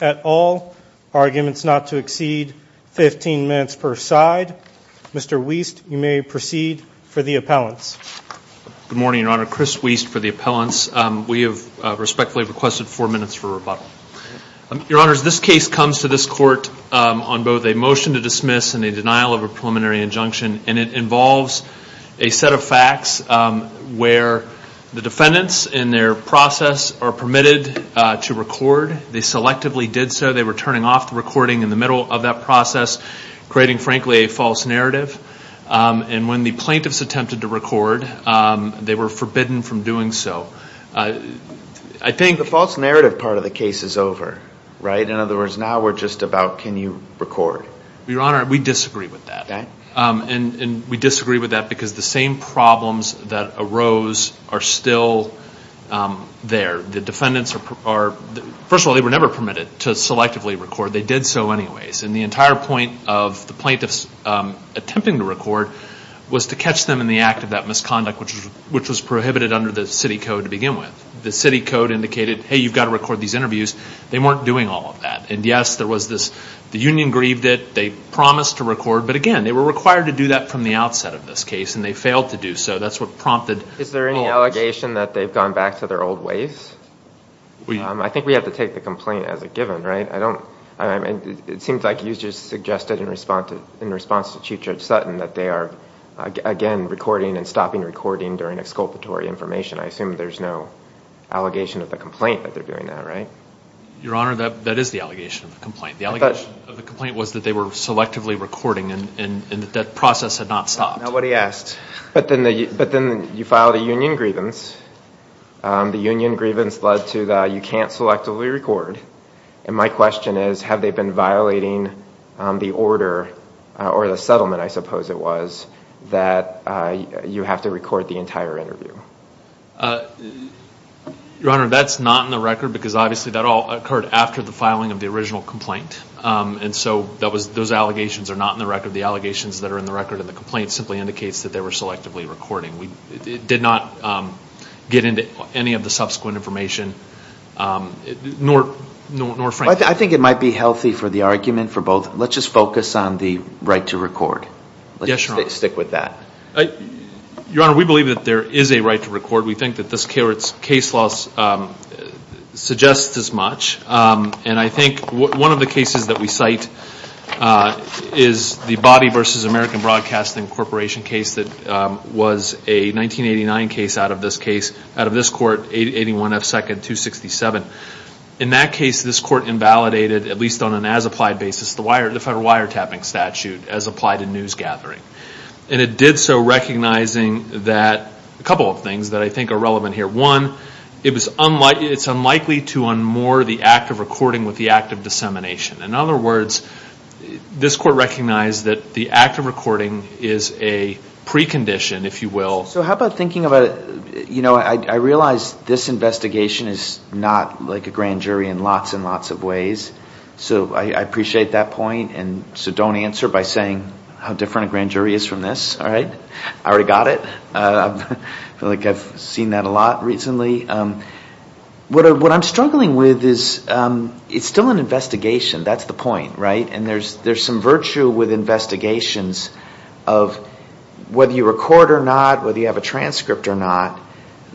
at all. Arguments not to exceed 15 minutes per side. Mr. Wiest, you may proceed for the appellants. Good morning, Your Honor. Chris Wiest for the appellants. We have respectfully requested four minutes for rebuttal. Your Honor, as this case comes to this court on both a motion to dismiss and a denial of appellants, I would like to ask Mr. Wiest to come forward for a preliminary injunction, and it involves a set of facts where the defendants in their process are permitted to record. They selectively did so. They were turning off the recording in the middle of that process, creating, frankly, a false narrative. And when the plaintiffs attempted to record, they were forbidden from doing so. I think the false narrative part of the case is over, right? In other words, now we're just about can you record? Your And we disagree with that because the same problems that arose are still there. The defendants are, first of all, they were never permitted to selectively record. They did so anyways. And the entire point of the plaintiffs attempting to record was to catch them in the act of that misconduct, which was prohibited under the city code to begin with. The city code indicated, hey, you've got to record these interviews. They weren't doing all of that. And yes, there was this, the union grieved it. They promised to record. But again, they were required to do that from the outset of this case, and they failed to do so. That's what prompted. Is there any allegation that they've gone back to their old ways? I think we have to take the complaint as a given, right? It seems like you just suggested in response to Chief Judge Sutton that they are, again, recording and stopping recording during exculpatory information. I assume there's no allegation of the complaint that they're The allegation of the complaint was that they were selectively recording, and that process had not stopped. Nobody asked. But then you filed a union grievance. The union grievance led to the, you can't selectively record. And my question is, have they been violating the order, or the settlement, I suppose it was, that you have to record the entire interview? Your Honor, that's not in the record, because obviously that all occurred after the filing of the original complaint. And so that was, those allegations are not in the record. The allegations that are in the record of the complaint simply indicates that they were selectively recording. We did not get into any of the subsequent information, nor frankly. I think it might be healthy for the argument for both, let's just focus on the right to record. Yes, Your Honor. Let's just stick with that. Your Honor, we believe that there is a right to record. We think that this case law suggests as much. And I think one of the cases that we cite is the Bobby v. American Broadcasting Corporation case that was a 1989 case out of this case, out of this court, 8182-267. In that case, this court invalidated, at least on an as-applied basis, the federal wiretapping statute as applied in news gathering. And it did so recognizing that, a couple of things that I think are relevant here. One, it's unlikely to unmoor the act of recording with the act of dissemination. In other words, this court recognized that the act of recording is a precondition, if you will. So how about thinking about, you know, I realize this investigation is not like a grand jury in lots and lots of ways. So I appreciate that point. And so don't answer by saying how different a grand jury is from this. All right? I already got it. I feel like I've seen that a lot recently. What I'm struggling with is it's still an investigation. That's the point, right? And there's some virtue with investigations of whether you record or not, whether you have a transcript or not,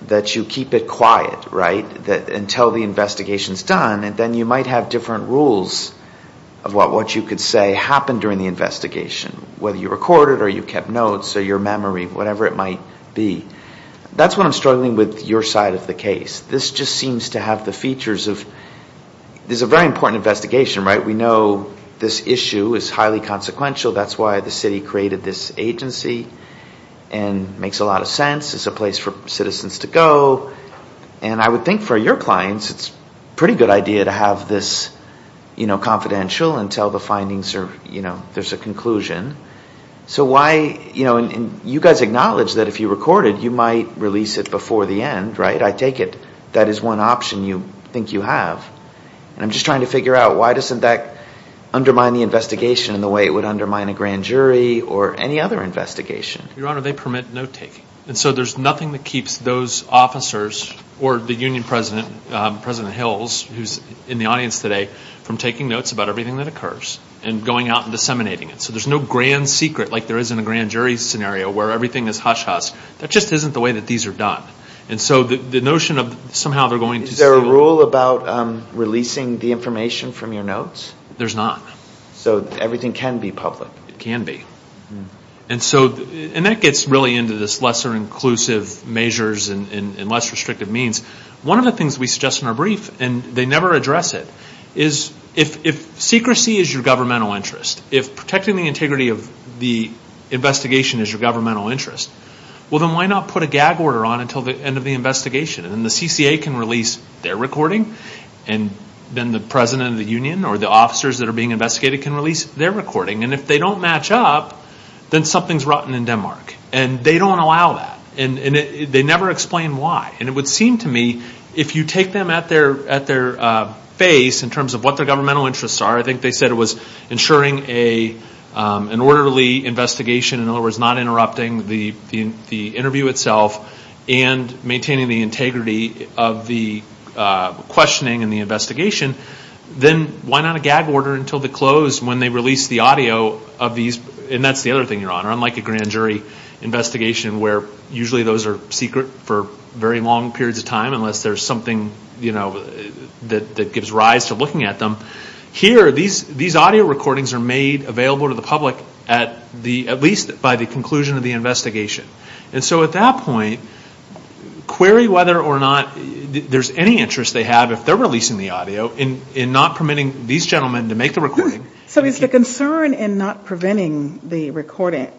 that you keep it quiet, right, until the investigation is done. And then you might have different rules of what you could say happened during the investigation, whether you recorded or you kept notes or your memory, whatever it might be. That's what I'm struggling with your side of the case. This just seems to have the features of, this is a very important investigation, right? We know this issue is highly consequential. That's why the city created this agency and makes a lot of sense. It's a place for citizens to go. And I would think for your clients, it's a pretty good idea to have this confidential until the findings are, there's a conclusion. So why, you know, and you guys acknowledge that if you recorded, you might release it before the end, right? I take it that is one option you think you have. And I'm just trying to figure out why doesn't that undermine the investigation in the way it would undermine a grand jury or any other investigation? Your Honor, they permit note taking. And so there's President Hills, who's in the audience today, from taking notes about everything that occurs and going out and disseminating it. So there's no grand secret like there is in a grand jury scenario where everything is hush-hush. That just isn't the way that these are done. And so the notion of somehow they're going to say... Is there a rule about releasing the information from your notes? There's not. So everything can be public? It can be. And so, and that gets really into this lesser inclusive measures and less restrictive means. One of the things we suggest in our brief, and they never address it, is if secrecy is your governmental interest, if protecting the integrity of the investigation is your governmental interest, well then why not put a gag order on until the end of the investigation? And the CCA can release their recording, and then the President of the Union or the officers that are being investigated can release their recording. And if they don't match up, then something's rotten in Denmark. And they don't allow that. And they never explain why. And it would seem to me, if you take them at their face in terms of what their governmental interests are, I think they said it was ensuring an orderly investigation, in other words, not interrupting the interview itself, and maintaining the integrity of the questioning and the investigation, then why not a gag order until the close when they release the audio of these? And that's the other thing, Your Honor. Unlike a grand jury investigation where usually those are secret for very long periods of time, unless there's something, you know, that gives rise to looking at them, here these audio recordings are made available to the public at least by the conclusion of the investigation. And so at that point, query whether or not there's any interest they have, if they're releasing the audio, in not permitting these gentlemen to make the recording. So is the concern in not preventing the recording,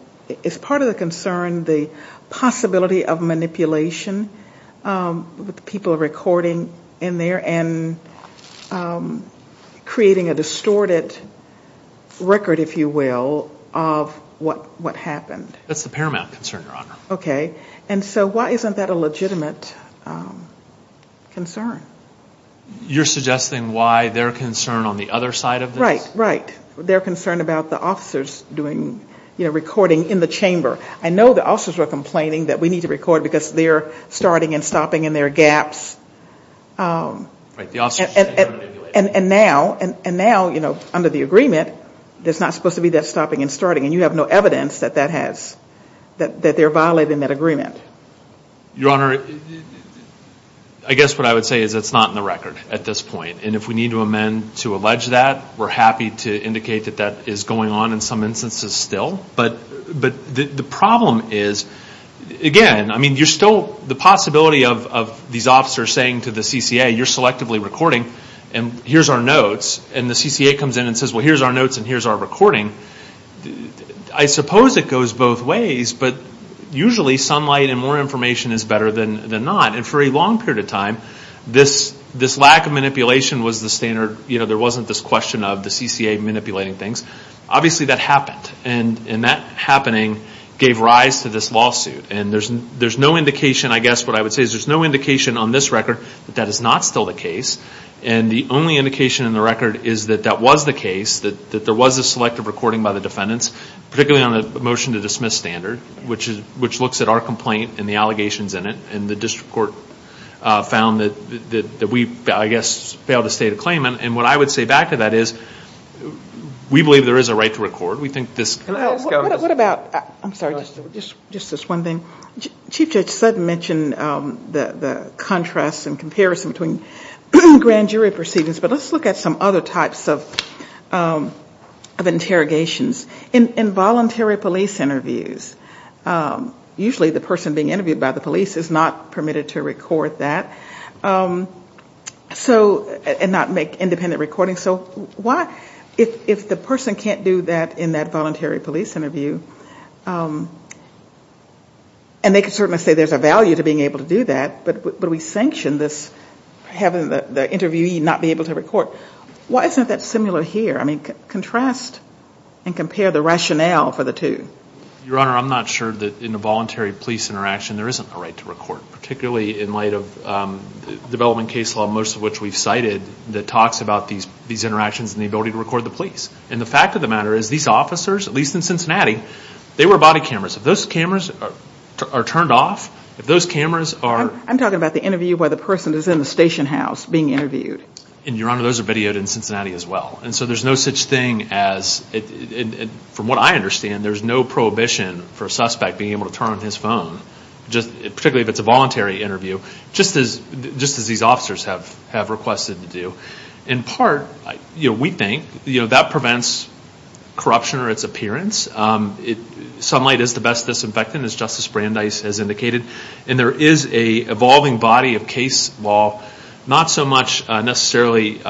is part of the concern the possibility of manipulation with the people recording in there and creating a distorted record, if you will, of what happened? That's the paramount concern, Your Honor. Okay. And so why isn't that a legitimate concern? You're suggesting why their concern on the other side of this? Right, right. Their concern about the officers doing, you know, recording in the chamber. I know the officers were complaining that we need to record because they're starting and stopping in their gaps. Right, the officers should be manipulated. And now, you know, under the agreement, there's not supposed to be that stopping and starting. And you have no evidence that that has, that they're violating that agreement. Your Honor, I guess what I would say is it's not in the record at this point. And if we need to amend to allege that, we're happy to indicate that that is going on in some instances still. But the problem is, again, I mean, you're still, the possibility of these officers saying to the CCA, you're selectively recording, and here's our notes. And the CCA comes in and says, well, here's our notes and here's our recording. I suppose it goes both ways, but usually sunlight and more information is better than not. And for a long period of time, this lack of manipulation was the standard, you know, there wasn't this question of the CCA manipulating things. Obviously that happened. And that happening gave rise to this lawsuit. And there's no indication, I guess what I would say is there's no indication on this record that that is not still the case. And the only indication in the record is that that was the case, that there was a selective recording by the defendants, particularly on the motion to dismiss standard, which looks at our complaint and the allegations in it. And the district court found that we, I guess, failed to state a claim. And what I would say back to that is we believe there is a right to record. What about, I'm sorry, just this one thing. Chief Judge Sutton mentioned the contrast and comparison between grand jury proceedings. But let's look at some other types of interrogations. In voluntary police interviews, usually the person being interviewed by the police is not permitted to record that. So, and not make independent recordings. So why, if the person can't do that in that voluntary police interview, and they can certainly say there's a value to being able to do that, but we sanction this, having the interviewee not be able to record. Why isn't that similar here? I mean, contrast and compare the rationale for the two. Your Honor, I'm not sure that in a voluntary police interaction there isn't a right to record. Particularly in light of development case law, most of which we've cited, that talks about these interactions and the ability to record the police. And the fact of the matter is these officers, at least in Cincinnati, they wear body cameras. If those cameras are turned off, if those cameras are... I'm talking about the interview where the person is in the station house being interviewed. And Your Honor, those are videoed in Cincinnati as well. And so there's no such thing as, from what I understand, there's no prohibition for a suspect being able to turn on his phone. Particularly if it's a voluntary interview, just as these officers have requested to do. In part, we think, that prevents corruption or its appearance. Sunlight is the best disinfectant, as Justice Brandeis has indicated. And there is an evolving body of case law, not so much necessarily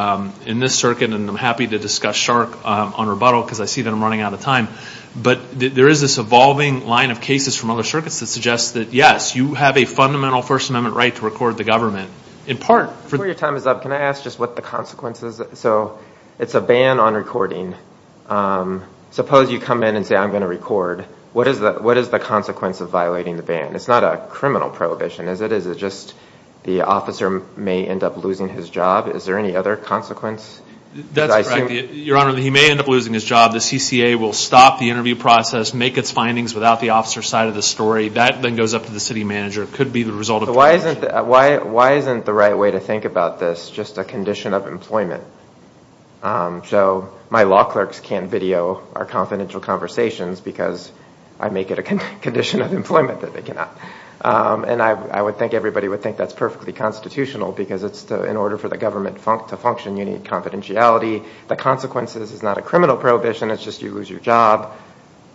in this circuit, and I'm happy to discuss SHARC on rebuttal, because I see that I'm running out of time. But there is this evolving line of cases from other circuits that suggest that, yes, you have a fundamental First Amendment right to record the government. Before your time is up, can I ask just what the consequences... So it's a ban on recording. Suppose you come in and say, I'm going to record. What is the consequence of violating the ban? It's not a criminal prohibition, is it? Is it just the officer may end up losing his job? Is there any other consequence? That's correct. Your Honor, he may end up losing his job. The CCA will stop the interview process, make its findings without the officer's side of the story. That then goes up to the city manager. It could be the result of corruption. Why isn't the right way to think about this just a condition of employment? So my law clerks can't video our confidential conversations, because I make it a condition of employment that they cannot. And I would think everybody would think that's perfectly constitutional, because in order for the government to function, you need confidentiality. The consequences is not a criminal prohibition. It's just you lose your job.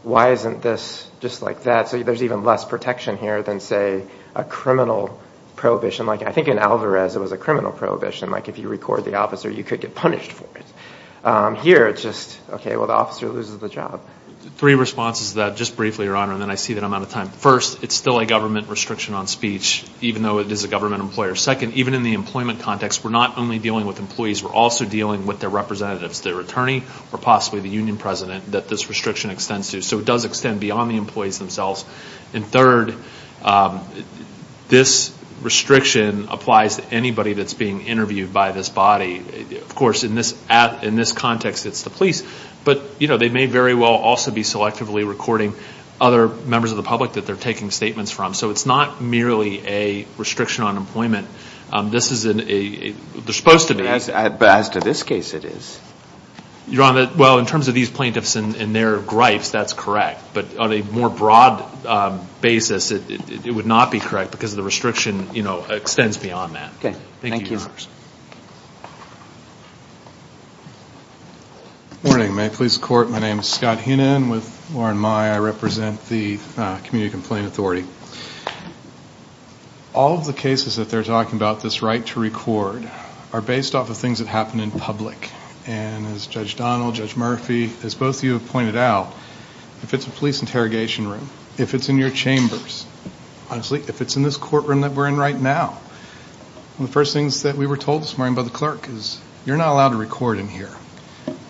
Why isn't this just like that? So there's even less protection here than, say, a criminal prohibition. Like, I think in Alvarez, it was a criminal prohibition. Like, if you record the officer, you could get punished for it. Here, it's just, OK, well, the officer loses the job. Three responses to that, just briefly, Your Honor, and then I see that I'm out of time. First, it's still a government restriction on speech, even though it is a government employer. Second, even in the employment context, we're not only dealing with employees, we're also dealing with their representatives, their attorney, or possibly the union president, that this restriction extends to. So it does extend beyond the employees themselves. And third, this restriction applies to anybody that's being interviewed by this body. Of course, in this context, it's the police. But they may very well also be selectively recording other members of the public that they're taking statements from. So it's not merely a restriction on employment. They're supposed to be. As to this case, it is. Your Honor, well, in terms of these plaintiffs and their gripes, that's correct. But on a more broad basis, it would not be correct, because the restriction, you know, extends beyond that. OK. Thank you. Good morning. May it please the Court, my name is Scott Heenan. With Warren Mai, I represent the Community Complaint Authority. All of the cases that they're talking about, this right to record, are based off of things that happen in public. And as Judge Donald, Judge Murphy, as both of you have pointed out, if it's a police interrogation room, if it's in your chambers, honestly, if it's in this courtroom that we're in right now, one of the first things that we were told this morning by the clerk is, you're not allowed to record in here.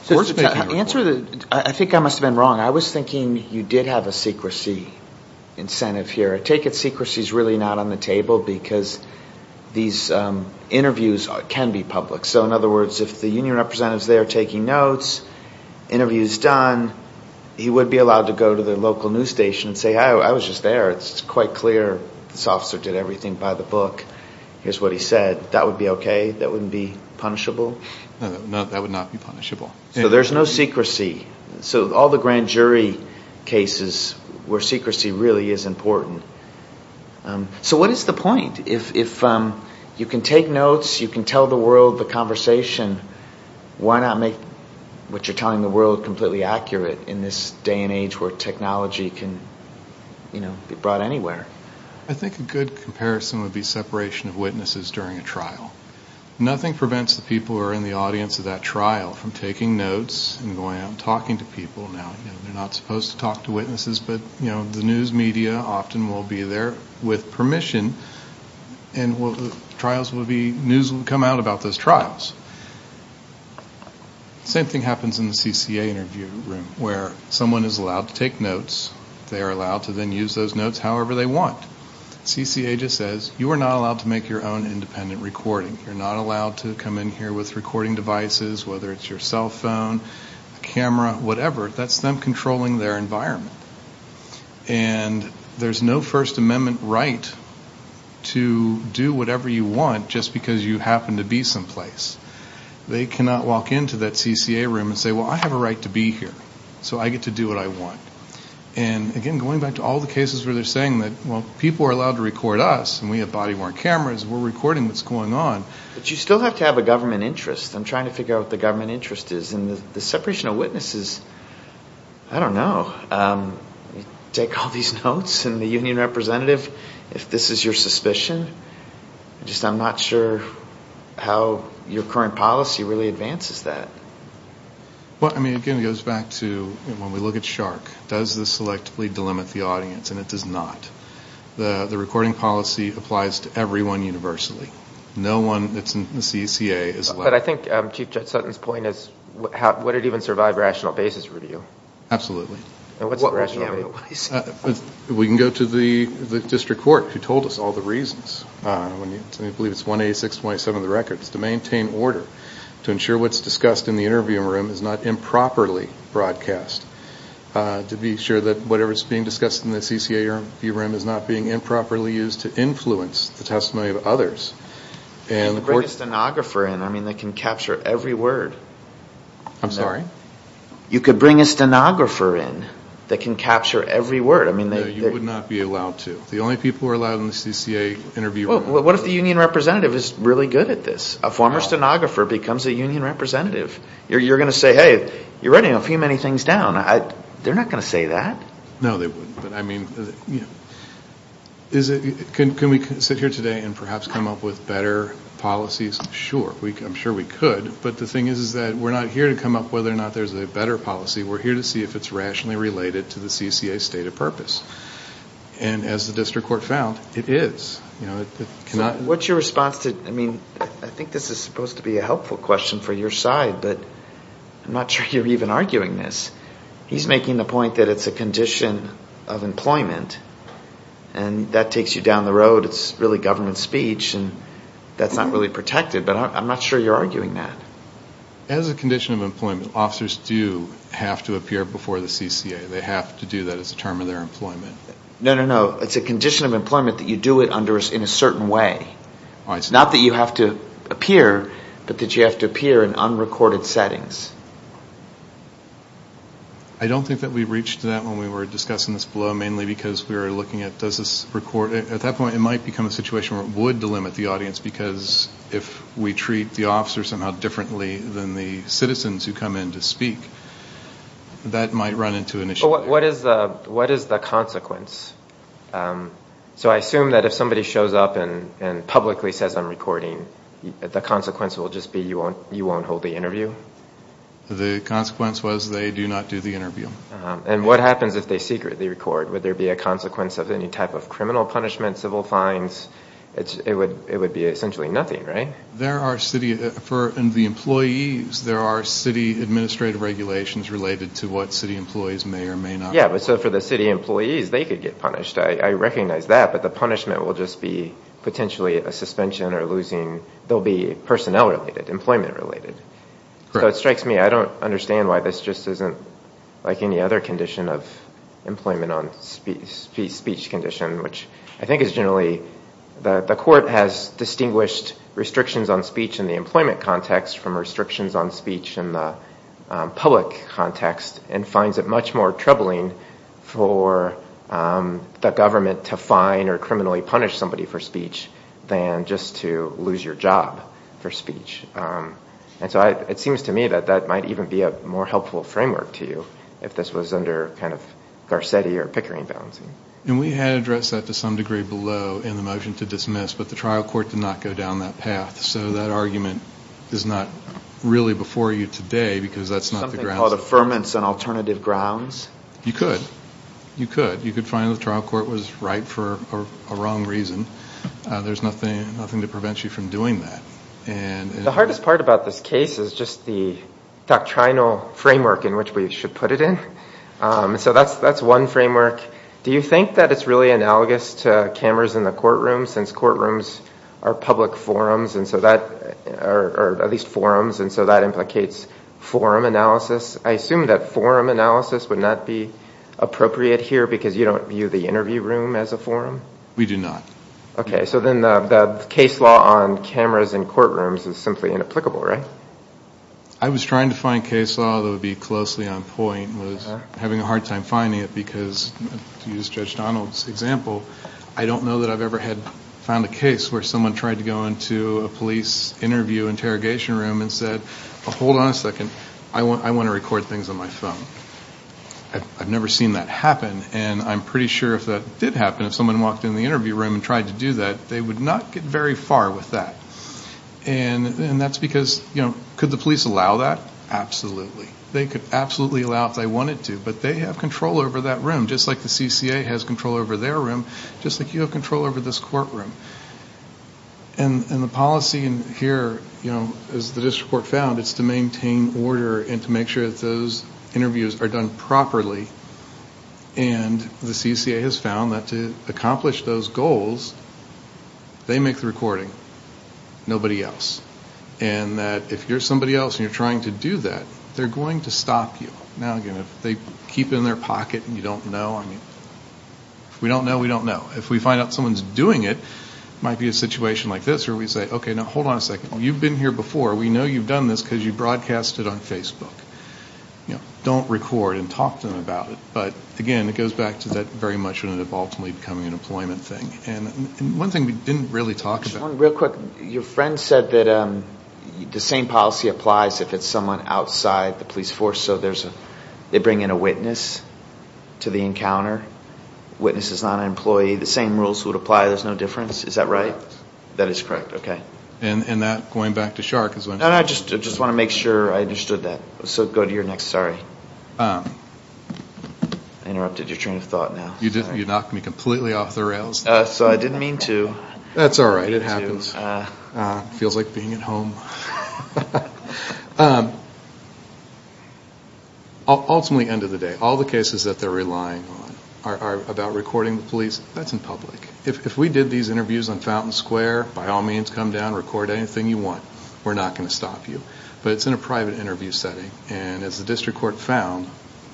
I think I must have been wrong. I was thinking you did have a secrecy incentive here. I take it secrecy is really not on the table, because these interviews can be public. So in other words, if the union representative is there taking notes, interview is done, he would be allowed to go to the local news station and say, hi, I was just there. It's quite clear this officer did everything by the book. Here's what he said. That would be OK? That wouldn't be punishable? No, that would not be punishable. So there's no secrecy. So all the grand jury cases where secrecy really is important. So what is the point? If you can take notes, you can tell the world the conversation, why not make what you're telling the world completely accurate in this day and age where technology can be brought anywhere? I think a good comparison would be separation of witnesses during a trial. Nothing prevents the people who are in the audience of that trial from taking notes and going out and talking to people. They're not supposed to talk to witnesses, but the news media often will be there with permission, and news will come out about those trials. Same thing happens in the CCA interview room, where someone is allowed to take notes. They are allowed to then use those notes however they want. CCA just says, you are not allowed to make your own independent recording. You're not allowed to come in here with recording devices, whether it's your cell phone, a camera, whatever. That's them controlling their environment. And there's no First Amendment right to do whatever you want just because you happen to be someplace. They cannot walk into that CCA room and say, well, I have a right to be here, so I get to do what I want. And again, going back to all the cases where they're saying that, well, people are allowed to record us, and we have body-worn cameras, and we're recording what's going on. But you still have to have a government interest. I'm trying to figure out what the government interest is, and the separation of witnesses, I don't know. You take all these notes, and the union representative, if this is your suspicion, I'm just not sure how your current policy really advances that. Well, again, it goes back to when we look at SHARC, does this selectively delimit the audience? And it does not. The recording policy applies to everyone universally. No one that's in the CCA is allowed. But I think Chief Judge Sutton's point is, would it even survive rational basis review? Absolutely. We can go to the district court, who told us all the reasons. I believe it's 186.27 of the record. It's to maintain order. To ensure what's discussed in the interview room is not improperly broadcast. To be sure that whatever's being discussed in the CCA review room is not being improperly used to influence the testimony of others. You could bring a stenographer in that can capture every word. You could bring a stenographer in that can capture every word. No, you would not be allowed to. The only people who are allowed in the CCA interview room... What if the union representative is really good at this? A former stenographer becomes a union representative. You're going to say, hey, you're writing a few many things down. They're not going to say that. No, they wouldn't. Can we sit here today and perhaps come up with better policies? Sure. I'm sure we could. But the thing is that we're not here to come up whether or not there's a better policy. We're here to see if it's rationally related to the CCA's stated purpose. And as the district court found, it is. What's your response to... I think this is supposed to be a helpful question for your side, but I'm not sure you're even arguing this. He's making the point that it's a condition of employment, and that takes you down the road. It's really government speech, and that's not really protected, but I'm not sure you're arguing that. As a condition of employment, officers do have to appear before the CCA. They have to do that as a term of their employment. No, no, no. It's a condition of employment that you do it in a certain way. Not that you have to appear, but that you have to appear in unrecorded settings. I don't think that we reached that when we were discussing this below, mainly because we were looking at, at that point it might become a situation where it would delimit the audience, because if we treat the officers somehow differently than the citizens who come in to speak, that might run into an issue. What is the consequence? So I assume that if somebody shows up and publicly says, I'm recording, the consequence will just be you won't hold the interview? The consequence was they do not do the interview. And what happens if they secretly record? Would there be a consequence of any type of criminal punishment, civil fines? It would be essentially nothing, right? In the employees, there are city administrative regulations related to what city employees may or may not do. Yeah, but so for the city employees, they could get punished. I recognize that, but the punishment will just be potentially a suspension or losing, they'll be personnel related, employment related. So it strikes me, I don't understand why this just isn't like any other condition of employment on speech condition, which I think is generally, the court has distinguished restrictions on speech in the employment context from restrictions on speech in the public context and finds it much more troubling for the government to fine or criminally punish somebody for speech than just to lose your job for speech. And so it seems to me that that might even be a more helpful framework to you if this was under kind of Garcetti or Pickering balancing. And we had addressed that to some degree below in the motion to dismiss, but the trial court did not go down that path. So that argument is not really before you today because that's not the grounds. Something called affirmance on alternative grounds? You could. You could. You could find the trial court was right for a wrong reason. There's nothing to prevent you from doing that. The hardest part about this case is just the doctrinal framework in which we should put it in. So that's one framework. Do you think that it's really analogous to cameras in the courtroom since courtrooms are public forums, or at least forums, and so that implicates forum analysis? I assume that forum analysis would not be appropriate here because you don't view the interview room as a forum? We do not. Okay. So then the case law on cameras in courtrooms is simply inapplicable, right? I was trying to find case law that would be closely on point. I was having a hard time finding it because, to use Judge Donald's example, I don't know that I've ever had found a case where someone tried to go into a police interview interrogation room and said, hold on a second, I want to record things on my phone. I've never seen that happen, and I'm pretty sure if that did happen, if someone walked into the interview room and tried to do that, they would not get very far with that. And that's because, you know, could the police allow that? Absolutely. They could absolutely allow it if they wanted to, but they have control over that room, just like the CCA has control over their room, just like you have control over this courtroom. And the policy here, as the district court found, is to maintain order and to make sure that those interviews are being recorded. That those interviews are done properly, and the CCA has found that to accomplish those goals, they make the recording, nobody else. And that if you're somebody else and you're trying to do that, they're going to stop you. Now, again, if they keep it in their pocket and you don't know, I mean, if we don't know, we don't know. If we find out someone's doing it, it might be a situation like this where we say, okay, now hold on a second. You've been here before. We know you've done this because you broadcast it on Facebook. Don't record and talk to them about it. But, again, it goes back to that very much when it evolved to becoming an employment thing. And one thing we didn't really talk about... One real quick, your friend said that the same policy applies if it's someone outside the police force, so they bring in a witness to the encounter. Witness is not an employee. The same rules would apply. There's no difference. Is that right? That is correct. Okay. And I just want to make sure I understood that. I interrupted your train of thought now. So I didn't mean to. That's all right. It happens. Feels like being at home. Ultimately, end of the day, all the cases that they're relying on are about recording the police. That's in public. If we did these interviews on Fountain Square, by all means, come down, record anything you want. We're not going to stop you. But it's in a private interview setting. And as the district court found,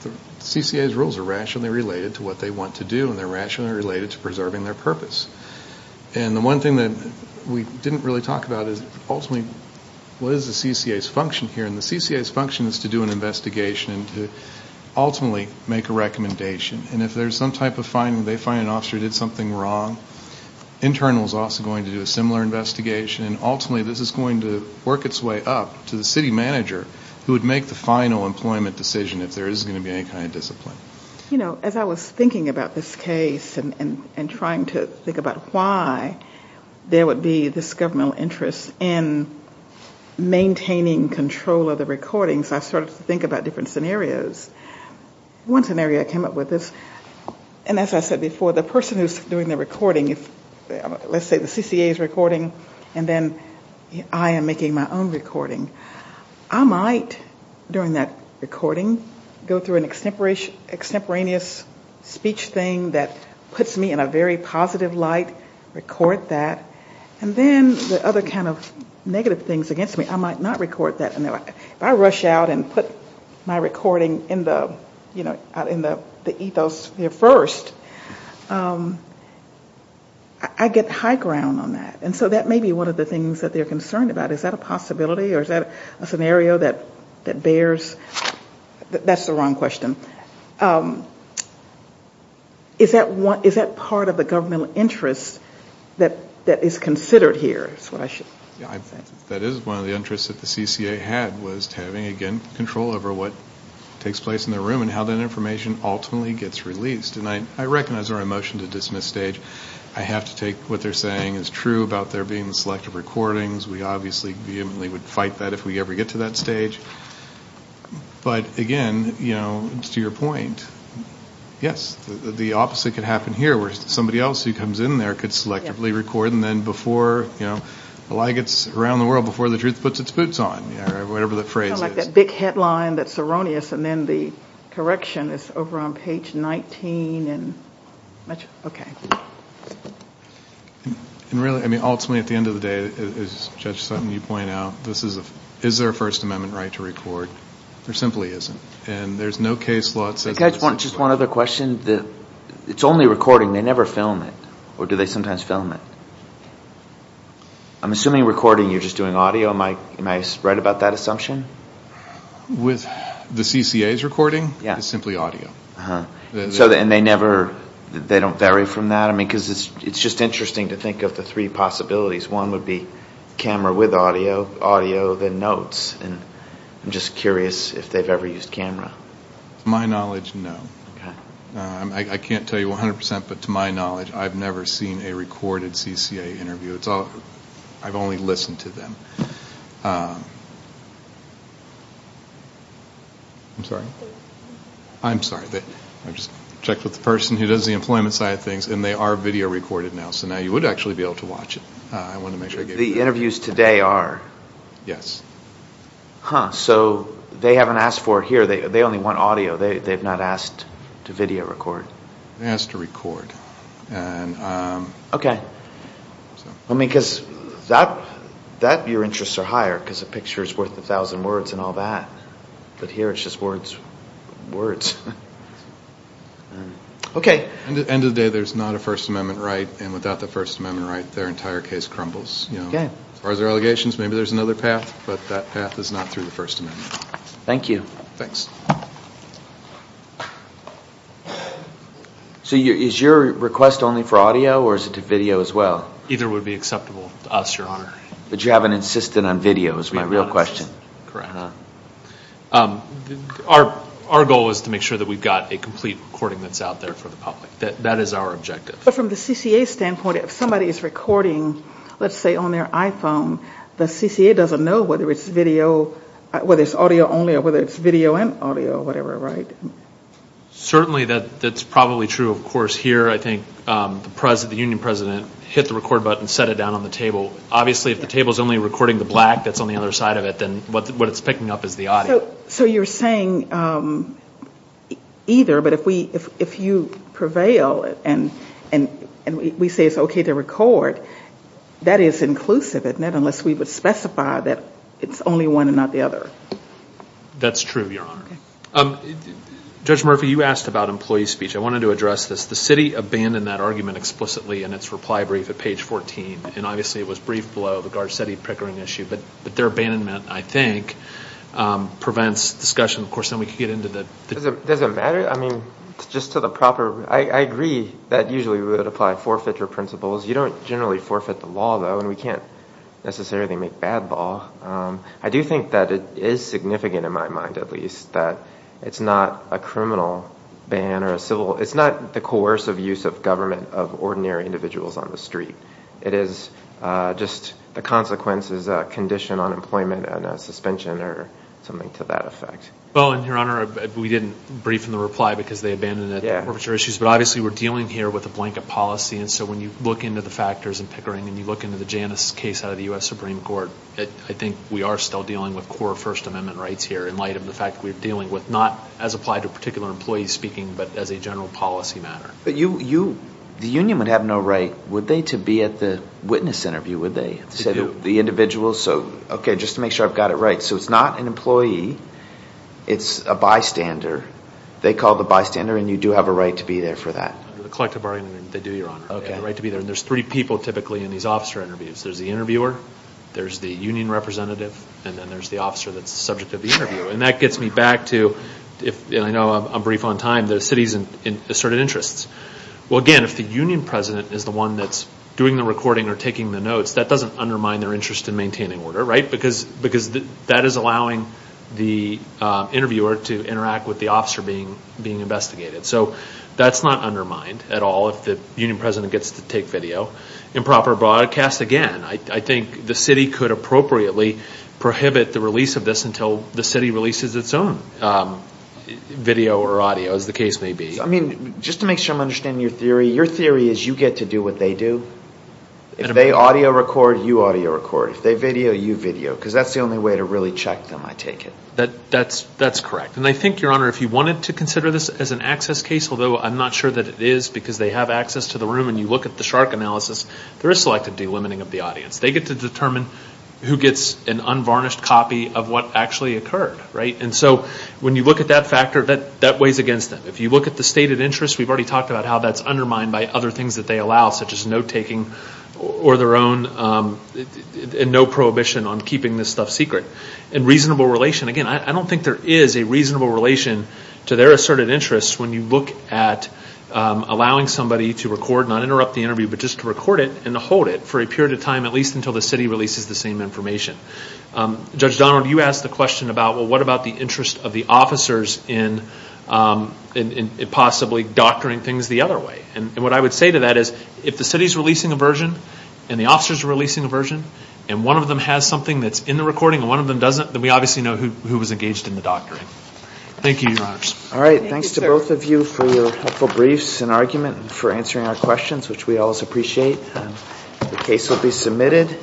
the CCA's rules are rationally related to what they want to do, and they're rationally related to preserving their purpose. And the one thing that we didn't really talk about is, ultimately, what is the CCA's function here? And the CCA's function is to do an investigation and to ultimately make a recommendation. And if there's some type of finding, they find an officer who did something wrong, internal is also going to do a similar investigation, and ultimately this is going to work its way up to the city manager who would make the final employment decision if there is going to be any kind of discipline. You know, as I was thinking about this case and trying to think about why there would be this governmental interest in maintaining control of the recordings, I started to think about different scenarios. One scenario I came up with is, and as I said before, the person who is doing the recording, let's say the CCA is recording, and then I am making my own recording. I might, during that recording, go through an extemporaneous speech thing that puts me in a very positive light, record that, and then the other kind of negative things against me, I might not record that. If I rush out and put my recording in the ethos here first, I get high ground on that. And so that may be one of the things that they are concerned about. Is that a possibility or is that a scenario that bears, that's the wrong question. Is that part of the governmental interest that is considered here? That is one of the interests that the CCA had was having, again, control over what takes place in the room and how that information ultimately gets released. And I recognize there are a motion to dismiss stage. I have to take what they are saying is true about there being selective recordings. We obviously vehemently would fight that if we ever get to that stage. But again, to your point, yes, the opposite could happen here, where somebody else who comes in there could selectively record, and then before the lie gets around the world, before the truth puts its boots on, or whatever the phrase is. It's like that big headline that is erroneous, and then the correction is over on page 19. Okay. Ultimately, at the end of the day, as Judge Sutton, you point out, is there a First Amendment right to record? There simply isn't. And there is no case law that says that. Just one other question. It's only recording. They never film it, or do they sometimes film it? I'm assuming recording, you're just doing audio. Am I right about that assumption? With the CCAs recording, it's simply audio. And they don't vary from that? Because it's just interesting to think of the three possibilities. One would be camera with audio, audio, then notes. I'm just curious if they've ever used camera. To my knowledge, no. I can't tell you 100%, but to my knowledge, I've never seen a recorded CCA interview. I've only listened to them. I'm sorry? I'm sorry. I just checked with the person who does the employment side of things, and they are video recorded now, so now you would actually be able to watch it. The interviews today are? So they haven't asked for it here. They only want audio. They've not asked to video record. They asked to record. That, your interests are higher, because a picture is worth a thousand words and all that. But here it's just words. Okay. At the end of the day, there's not a First Amendment right, and without the First Amendment right, their entire case crumbles. As far as their allegations, maybe there's another path, but that path is not through the First Amendment. Thank you. So is your request only for audio, or is it to video as well? Either would be acceptable to us, Your Honor. Our goal is to make sure that we've got a complete recording that's out there for the public. That is our objective. But from the CCA standpoint, if somebody is recording, let's say on their iPhone, the CCA doesn't know whether it's audio only or whether it's video and audio or whatever, right? Certainly that's probably true. Of course, here I think the union president hit the record button and set it down on the table. Obviously if the table is only recording the black that's on the other side of it, then what it's picking up is the audio. So you're saying either, but if you prevail and we say it's okay to record, that is inclusive, unless we would specify that it's only one and not the other. That's true, Your Honor. Judge Murphy, you asked about employee speech. I wanted to address this. The city abandoned that argument explicitly in its reply brief at page 14, and obviously it was briefed below the Garcetti-Pickering issue. But their abandonment, I think, prevents discussion. Of course, then we can get into the... Does it matter? I mean, just to the proper... I agree that usually we would apply forfeiture principles. You don't generally forfeit the law, though, and we can't necessarily make bad law. I do think that it is significant in my mind, at least, that it's not a criminal ban or a civil... It's not the coercive use of government of ordinary individuals on the street. It is just the consequences, a condition on employment and a suspension or something to that effect. Well, and Your Honor, we didn't brief in the reply because they abandoned the forfeiture issues, but obviously we're dealing here with a blanket policy, and so when you look into the factors in Pickering and you look into the Janus case out of the U.S. Supreme Court, I think we are still dealing with core First Amendment rights here in light of the fact that we're dealing with, not as applied to particular employees speaking, but as a general policy matter. But you... The union would have no right, would they, to be at the witness interview, would they? They do. The individual, so... Okay, just to make sure I've got it right. So it's not an employee. It's a bystander. They call the bystander, and you do have a right to be there for that. Under the collective bargaining, they do, Your Honor. They have a right to be there, and there's three people typically in these officer interviews. There's the interviewer, there's the union representative, and then there's the officer that's the subject of the interview. And that gets me back to, and I know I'm brief on time, the city's asserted interests. Well, again, if the union president is the one that's doing the recording or taking the notes, that doesn't undermine their interest in maintaining order, right? Because that is allowing the interviewer to interact with the officer being investigated. So that's not undermined at all if the union president gets to take video. Improper broadcast, again, I think the city could appropriately prohibit the release of this until the city releases its own video or audio, as the case may be. I mean, just to make sure I'm understanding your theory, your theory is you get to do what they do. If they audio record, you audio record. If they video, you video, because that's the only way to really check them, I take it. That's correct. And I think, Your Honor, if you wanted to consider this as an access case, although I'm not sure that it is because they have access to the room and you look at the shark analysis, there is selective delimiting of the audience. They get to determine who gets an unvarnished copy of what actually occurred, right? And so when you look at that factor, that weighs against them. If you look at the stated interest, we've already talked about how that's undermined by other things that they allow, such as note taking or their own, and no prohibition on keeping this stuff secret. And reasonable relation, again, I don't think there is a reasonable relation to their asserted interest when you look at allowing somebody to record, not interrupt the interview, but just to record it and to hold it for a period of time, at least until the city releases the same information. Judge Donald, you asked the question about, well, what about the interest of the officers in possibly doctoring things the other way? And what I would say to that is, if the city is releasing a version and the officers are releasing a version and one of them has something that's in the recording and one of them doesn't, then we obviously know who was engaged in the doctoring. Thank you, Your Honors. All right, thanks to both of you for your helpful briefs and argument and for answering our questions, which we always appreciate. The case will be submitted.